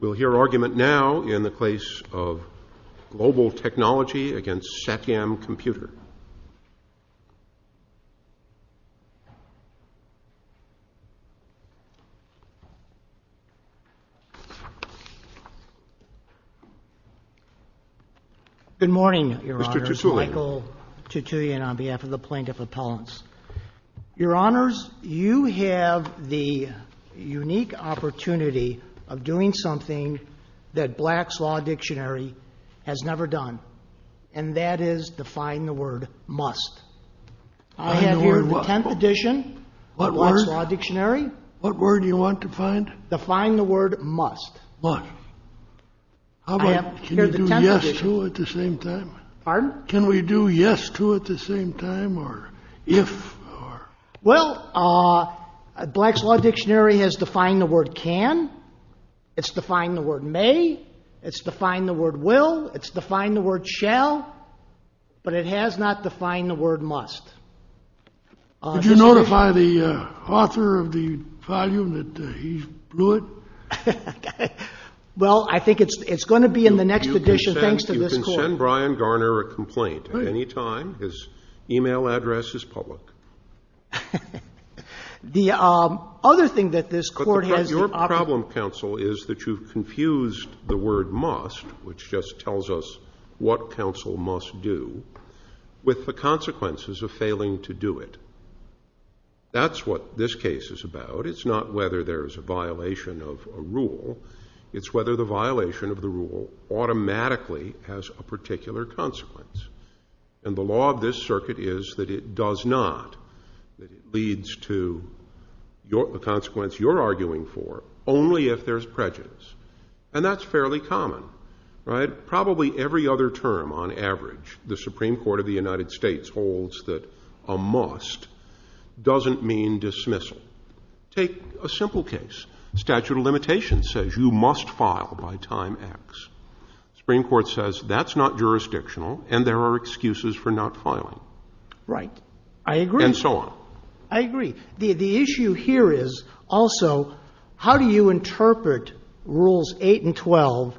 We'll hear argument now in the place of global technology against Satyam Computer. Good morning, Your Honors. Mr. Tutulian. Michael Tutulian on behalf of the Plaintiff Appellants. Your Honors, you have the unique opportunity of doing something that Black's Law Dictionary has never done, and that is define the word must. I have here the 10th edition of Black's Law Dictionary. What word do you want defined? Define the word must. Must. I have here the 10th edition. Can you do yes to it at the same time? Pardon? Can we do yes to it at the same time, or if? Well, Black's Law Dictionary has defined the word can. It's defined the word may. It's defined the word will. It's defined the word shall. But it has not defined the word must. Did you notify the author of the volume that he blew it? Well, I think it's going to be in the next edition, thanks to this court. You can send Brian Garner a complaint at any time. His e-mail address is public. The other thing that this court has in option. But your problem, counsel, is that you've confused the word must, which just tells us what counsel must do, with the consequences of failing to do it. That's what this case is about. It's whether the violation of the rule automatically has a particular consequence. And the law of this circuit is that it does not. It leads to the consequence you're arguing for only if there's prejudice. And that's fairly common, right? Probably every other term, on average, the Supreme Court of the United States holds that a must doesn't mean dismissal. Take a simple case. Statute of limitations says you must file by time X. The Supreme Court says that's not jurisdictional and there are excuses for not filing. Right. I agree. And so on. I agree. The issue here is also how do you interpret Rules 8 and 12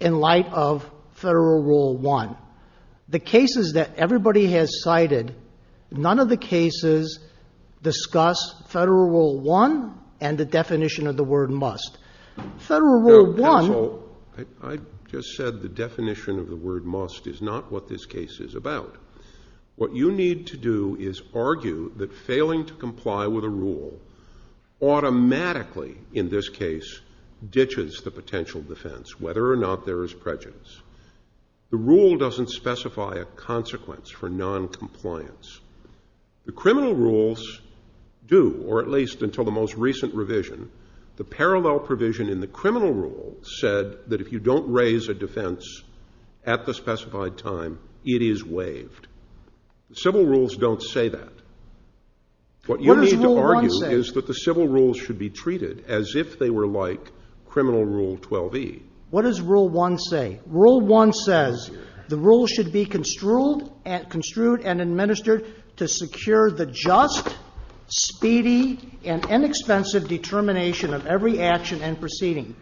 in light of Federal Rule 1? The cases that everybody has cited, none of the cases discuss Federal Rule 1 and the definition of the word must. Federal Rule 1. Now, counsel, I just said the definition of the word must is not what this case is about. What you need to do is argue that failing to comply with a rule automatically, in this case, ditches the potential defense, whether or not there is prejudice. The rule doesn't specify a consequence for noncompliance. The criminal rules do, or at least until the most recent revision, the parallel provision in the criminal rule said that if you don't raise a defense at the specified time, it is waived. Civil rules don't say that. What you need to argue is that the civil rules should be treated as if they were like criminal Rule 12e. What does Rule 1 say? Rule 1 says the rule should be construed and administered to secure the just, speedy, and inexpensive determination of every action and proceeding.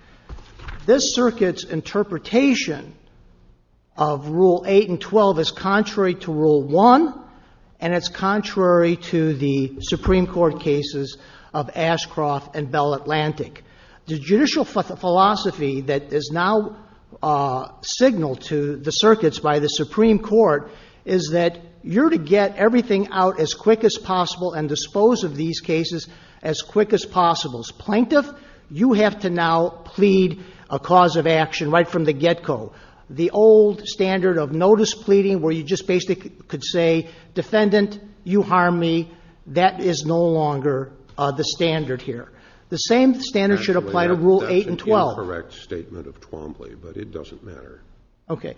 This circuit's interpretation of Rule 8 and 12 is contrary to Rule 1, and it's contrary to the Supreme Court cases of Ashcroft and Bell Atlantic. The judicial philosophy that is now signaled to the circuits by the Supreme Court is that you're to get everything out as quick as possible and dispose of these cases as quick as possible. Plaintiff, you have to now plead a cause of action right from the get-go. The old standard of notice pleading where you just basically could say, defendant, you harmed me, that is no longer the standard here. The same standard should apply to Rule 8 and 12. That's an incorrect statement of Twombly, but it doesn't matter. Okay.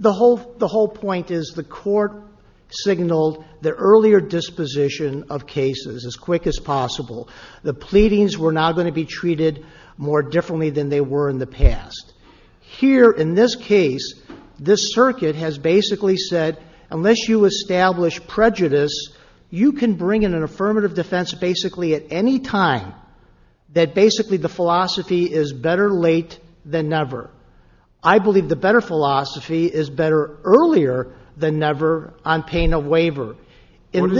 The whole point is the Court signaled the earlier disposition of cases as quick as possible. The pleadings were now going to be treated more differently than they were in the past. Here, in this case, this circuit has basically said, unless you establish prejudice, you can bring in an affirmative defense basically at any time that basically the philosophy is better late than never. I believe the better philosophy is better earlier than never on pain of waiver. What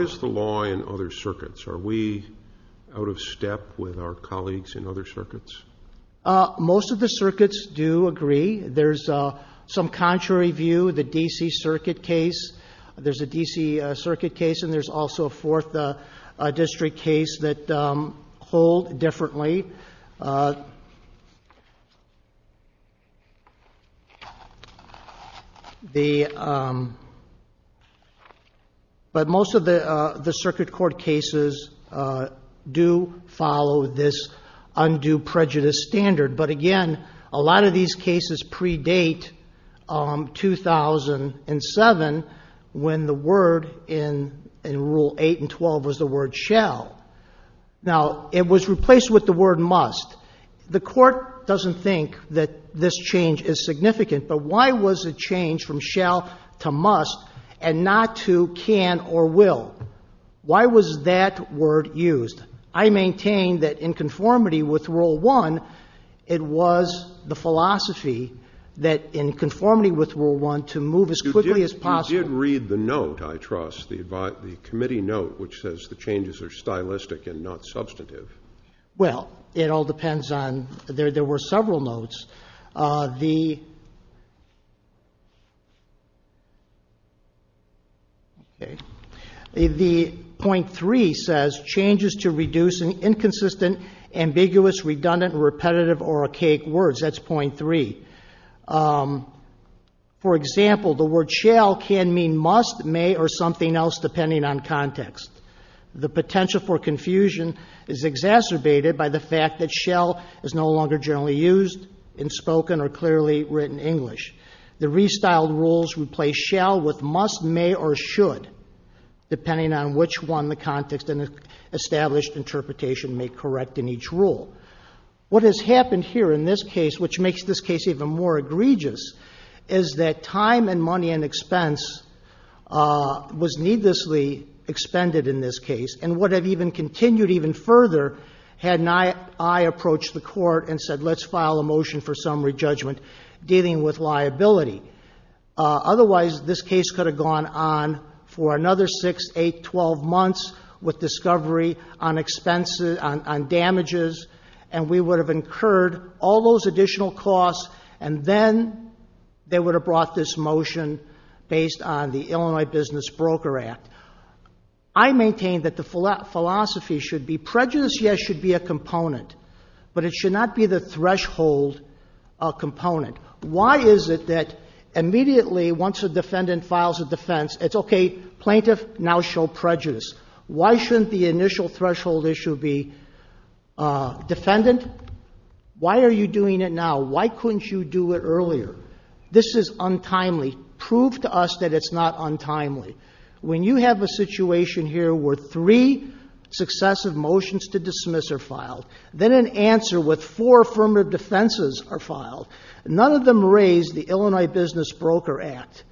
is the law in other circuits? Are we out of step with our colleagues in other circuits? Most of the circuits do agree. There's some contrary view, the D.C. Circuit case. There's a D.C. Circuit case, and there's also a Fourth District case that hold differently. But most of the circuit court cases do follow this undue prejudice standard. But again, a lot of these cases predate 2007 when the word in Rule 8 and 12 was the word shall. Now, it was replaced with the word must. The Court doesn't think that this change is significant, but why was it changed from shall to must and not to can or will? Why was that word used? I maintain that in conformity with Rule 1, it was the philosophy that in conformity with Rule 1, to move as quickly as possible. You did read the note, I trust, the committee note, which says the changes are stylistic and not substantive. Well, it all depends on ‑‑ there were several notes. The ‑‑ okay. The point 3 says, changes to reduce inconsistent, ambiguous, redundant, repetitive, or archaic words. That's point 3. For example, the word shall can mean must, may, or something else depending on context. The potential for confusion is exacerbated by the fact that shall is no longer generally used in spoken or clearly written English. The restyled rules replace shall with must, may, or should depending on which one the context and established interpretation may correct in each rule. What has happened here in this case, which makes this case even more egregious, is that time and money and expense was needlessly expended in this case. And would have even continued even further had I approached the court and said let's file a motion for summary judgment dealing with liability. Otherwise, this case could have gone on for another 6, 8, 12 months with discovery on expenses, on damages. And we would have incurred all those additional costs. And then they would have brought this motion based on the Illinois Business Broker Act. I maintain that the philosophy should be prejudice, yes, should be a component. But it should not be the threshold component. Why is it that immediately once a defendant files a defense, it's okay, plaintiff, now show prejudice. Why shouldn't the initial threshold issue be defendant? Why are you doing it now? Why couldn't you do it earlier? This is untimely. Prove to us that it's not untimely. When you have a situation here where three successive motions to dismiss are filed, then an answer with four affirmative defenses are filed. None of them raise the Illinois Business Broker Act.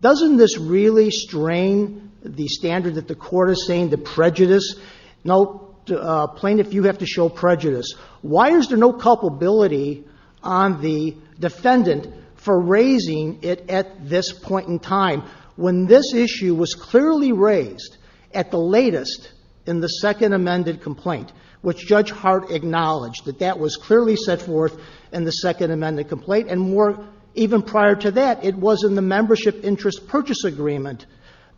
Doesn't this really strain the standard that the court is saying, the prejudice? No, plaintiff, you have to show prejudice. Why is there no culpability on the defendant for raising it at this point in time when this issue was clearly raised at the latest in the Second Amendment complaint, which Judge Hart acknowledged that that was clearly set forth in the Second Amendment complaint. And even prior to that, it was in the membership interest purchase agreement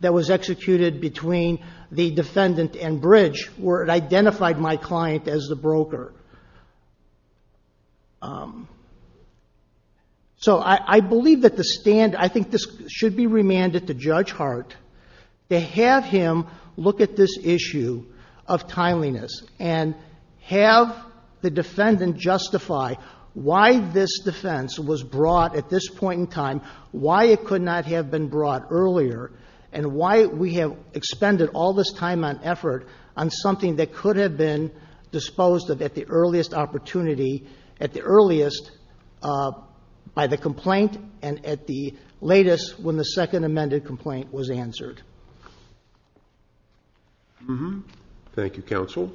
that was executed between the defendant and Bridge where it identified my client as the broker. So I believe that the standard, I think this should be remanded to Judge Hart to have him look at this issue of timeliness. And have the defendant justify why this defense was brought at this point in time, why it could not have been brought earlier, and why we have expended all this time and effort on something that could have been disposed of at the earliest opportunity, at the earliest by the complaint and at the latest when the Second Amendment complaint was answered. Thank you. Thank you, counsel.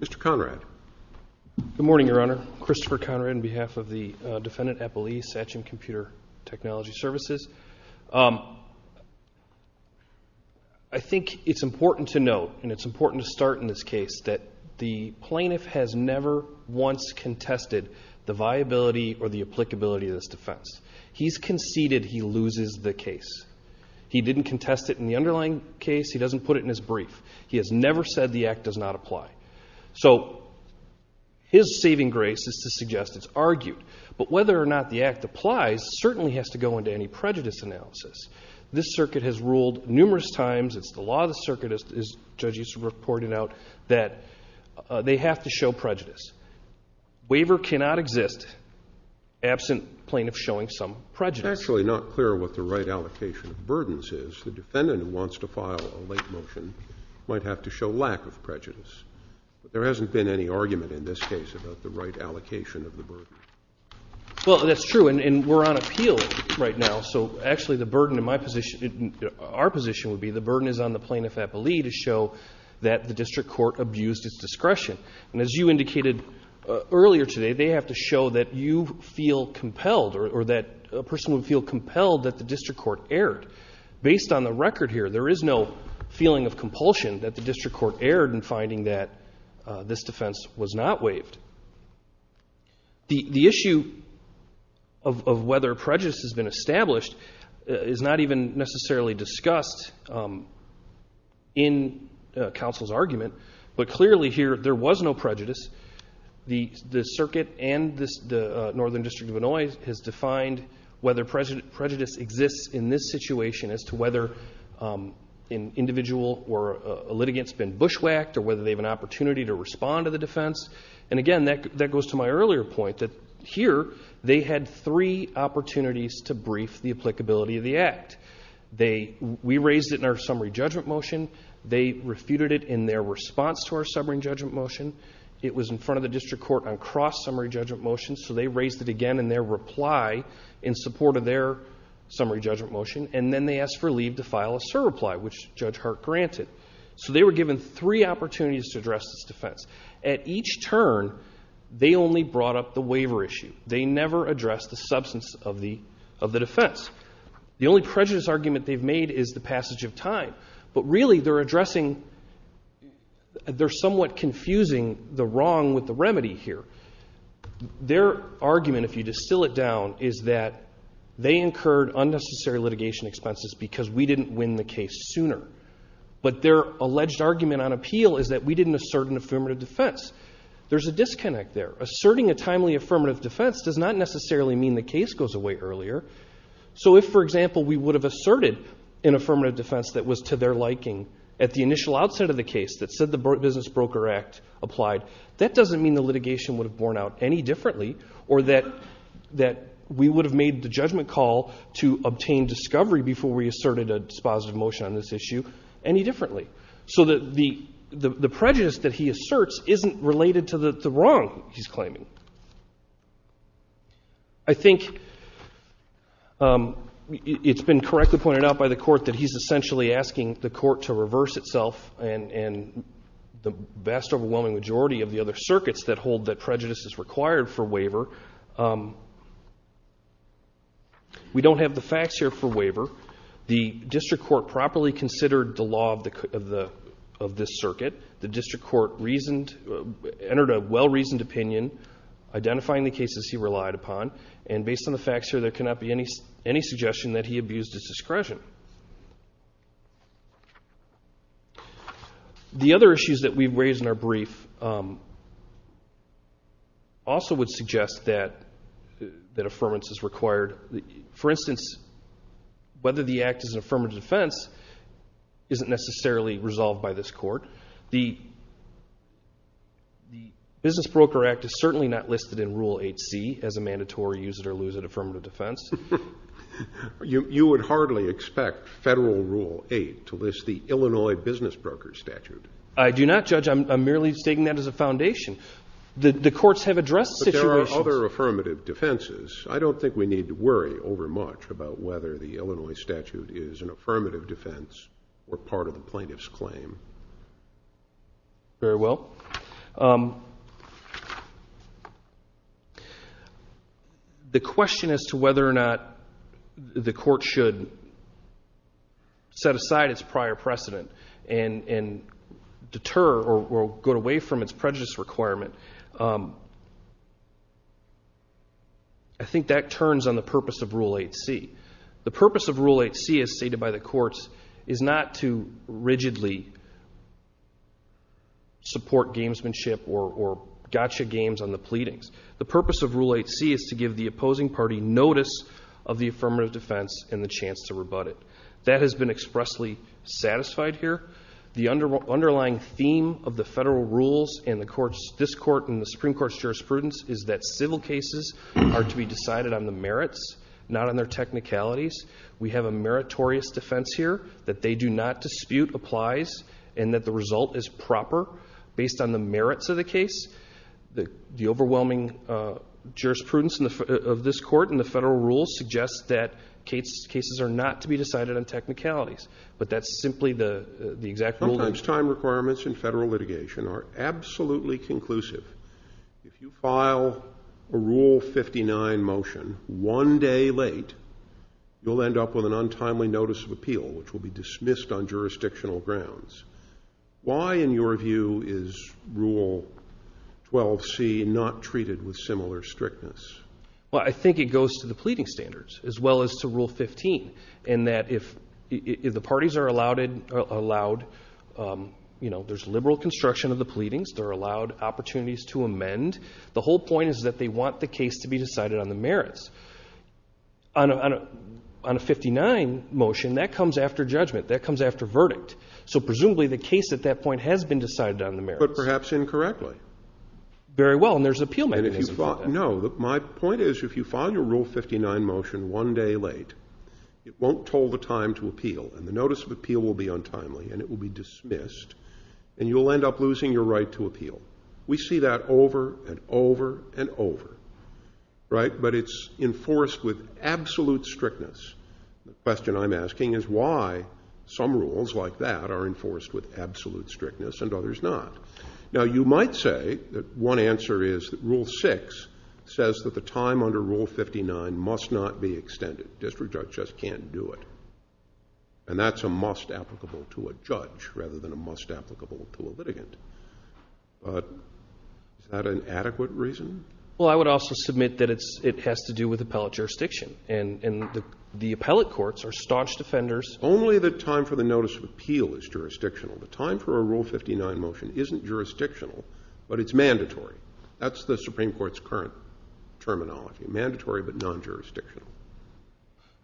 Mr. Conrad. Good morning, Your Honor. Christopher Conrad on behalf of the Defendant Appellee, Satchin Computer Technology Services. I think it's important to note, and it's important to start in this case, that the plaintiff has never once contested the viability or the applicability of this defense. He's conceded he loses the case. He didn't contest it in the underlying case. He doesn't put it in his brief. He has never said the act does not apply. So his saving grace is to suggest it's argued. But whether or not the act applies certainly has to go into any prejudice analysis. This circuit has ruled numerous times, it's the law of the circuit, as judges reported out, that they have to show prejudice. Waiver cannot exist absent plaintiff showing some prejudice. It's actually not clear what the right allocation of burdens is. The defendant who wants to file a late motion might have to show lack of prejudice. There hasn't been any argument in this case about the right allocation of the burden. Well, that's true, and we're on appeal right now. So actually the burden in my position, our position would be the burden is on the plaintiff appellee to show that the district court abused its discretion. And as you indicated earlier today, they have to show that you feel compelled or that a person would feel compelled that the district court erred. Based on the record here, there is no feeling of compulsion that the district court erred in finding that this defense was not waived. The issue of whether prejudice has been established is not even necessarily discussed in counsel's argument. But clearly here there was no prejudice. The circuit and the Northern District of Illinois has defined whether prejudice exists in this situation as to whether an individual or a litigant has been bushwhacked or whether they have an opportunity to respond to the defense. And again, that goes to my earlier point that here they had three opportunities to brief the applicability of the act. We raised it in our summary judgment motion. They refuted it in their response to our summary judgment motion. It was in front of the district court on cross-summary judgment motion. So they raised it again in their reply in support of their summary judgment motion. And then they asked for leave to file a surreply, which Judge Hart granted. So they were given three opportunities to address this defense. At each turn, they only brought up the waiver issue. They never addressed the substance of the defense. The only prejudice argument they've made is the passage of time. But really they're addressing, they're somewhat confusing the wrong with the remedy here. Their argument, if you distill it down, is that they incurred unnecessary litigation expenses because we didn't win the case sooner. But their alleged argument on appeal is that we didn't assert an affirmative defense. There's a disconnect there. Asserting a timely affirmative defense does not necessarily mean the case goes away earlier. So if, for example, we would have asserted an affirmative defense that was to their liking at the initial outset of the case, that said the Business Broker Act applied, that doesn't mean the litigation would have borne out any differently or that we would have made the judgment call to obtain discovery before we asserted a dispositive motion on this issue any differently. So the prejudice that he asserts isn't related to the wrong he's claiming. I think it's been correctly pointed out by the Court that he's essentially asking the Court to reverse itself and the vast overwhelming majority of the other circuits that hold that prejudice is required for waiver. We don't have the facts here for waiver. The district court properly considered the law of this circuit. The district court entered a well-reasoned opinion identifying the cases he relied upon. And based on the facts here, there cannot be any suggestion that he abused his discretion. The other issues that we've raised in our brief also would suggest that affirmance is required. For instance, whether the act is an affirmative defense isn't necessarily resolved by this Court. The Business Broker Act is certainly not listed in Rule 8C as a mandatory use it or lose it affirmative defense. You would hardly expect federal Rule 8 to list the Illinois Business Broker statute. I do not, Judge. I'm merely stating that as a foundation. The courts have addressed situations. There are other affirmative defenses. I don't think we need to worry over much about whether the Illinois statute is an affirmative defense or part of the plaintiff's claim. Very well. The question as to whether or not the Court should set aside its prior precedent and deter or go away from its prejudice requirement, I think that turns on the purpose of Rule 8C. The purpose of Rule 8C as stated by the courts is not to rigidly support gamesmanship or gotcha games on the pleadings. The purpose of Rule 8C is to give the opposing party notice of the affirmative defense and the chance to rebut it. That has been expressly satisfied here. The underlying theme of the federal rules in this Court and the Supreme Court's jurisprudence is that civil cases are to be decided on the merits, not on their technicalities. We have a meritorious defense here that they do not dispute applies and that the result is proper based on the merits of the case. The overwhelming jurisprudence of this Court and the federal rules suggests that cases are not to be decided on technicalities, but that's simply the exact rule. Sometimes time requirements in federal litigation are absolutely conclusive. If you file a Rule 59 motion one day late, you'll end up with an untimely notice of appeal which will be dismissed on jurisdictional grounds. Why, in your view, is Rule 12C not treated with similar strictness? Well, I think it goes to the pleading standards as well as to Rule 15 in that if the parties are allowed, you know, there's liberal construction of the pleadings. They're allowed opportunities to amend. The whole point is that they want the case to be decided on the merits. On a 59 motion, that comes after judgment. That comes after verdict. So presumably the case at that point has been decided on the merits. But perhaps incorrectly. Very well, and there's appeal mechanism for that. No, my point is if you file your Rule 59 motion one day late, it won't toll the time to appeal, and the notice of appeal will be untimely, and it will be dismissed, and you'll end up losing your right to appeal. We see that over and over and over, right? But it's enforced with absolute strictness. The question I'm asking is why some rules like that are enforced with absolute strictness and others not. Now, you might say that one answer is that Rule 6 says that the time under Rule 59 must not be extended. District judge just can't do it. And that's a must applicable to a judge rather than a must applicable to a litigant. But is that an adequate reason? Well, I would also submit that it has to do with appellate jurisdiction, and the appellate courts are staunch defenders. Only the time for the notice of appeal is jurisdictional. The time for a Rule 59 motion isn't jurisdictional, but it's mandatory. That's the Supreme Court's current terminology, mandatory but non-jurisdictional.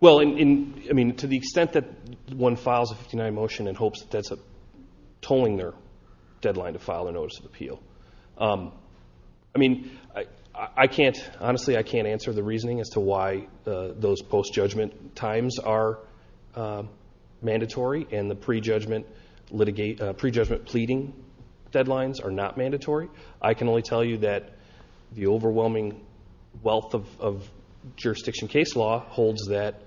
Well, I mean, to the extent that one files a Rule 59 motion in hopes that that's tolling their deadline to file a notice of appeal, I mean, I can't, honestly, I can't answer the reasoning as to why those post-judgment times are mandatory and the pre-judgment pleading deadlines are not mandatory. I can only tell you that the overwhelming wealth of jurisdiction case law holds that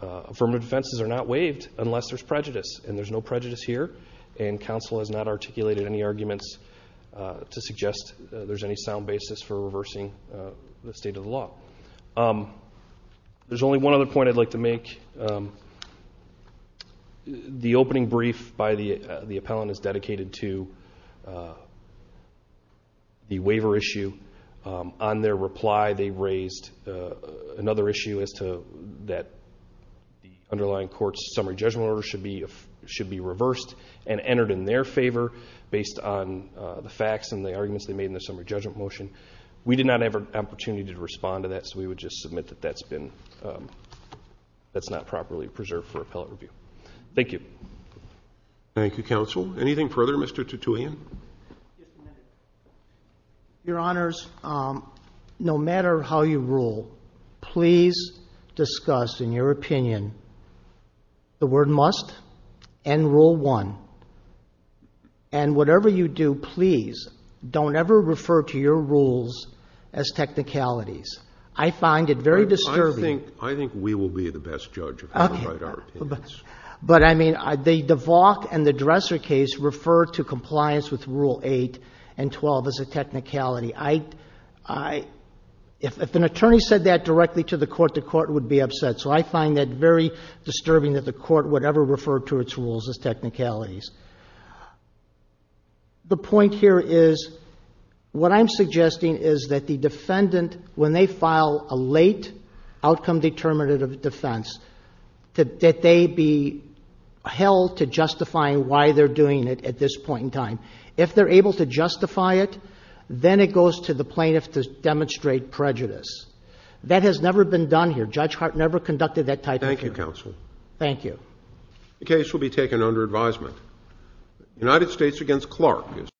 affirmative defenses are not waived unless there's prejudice. And there's no prejudice here, and counsel has not articulated any arguments to suggest there's any sound basis for reversing the state of the law. There's only one other point I'd like to make. The opening brief by the appellant is dedicated to the waiver issue. On their reply, they raised another issue as to that the underlying court's summary judgment order should be reversed and entered in their favor based on the facts and the arguments they made in the summary judgment motion. We did not have an opportunity to respond to that, so we would just submit that that's not properly preserved for appellate review. Thank you. Thank you, counsel. Anything further? Mr. Tutuian? Your Honors, no matter how you rule, please discuss in your opinion the word must and Rule 1. And whatever you do, please don't ever refer to your rules as technicalities. I find it very disturbing. I think we will be the best judge of how to write our opinions. Okay. But, I mean, the DeValk and the Dresser case refer to compliance with Rule 8 and 12 as a technicality. If an attorney said that directly to the court, the court would be upset. So I find that very disturbing that the court would ever refer to its rules as technicalities. The point here is what I'm suggesting is that the defendant, when they file a late outcome determinative defense, that they be held to justifying why they're doing it at this point in time. If they're able to justify it, then it goes to the plaintiff to demonstrate prejudice. That has never been done here. Judge Hart never conducted that type of hearing. Thank you, Counsel. Thank you. The case will be taken under advisement. United States v. Clark is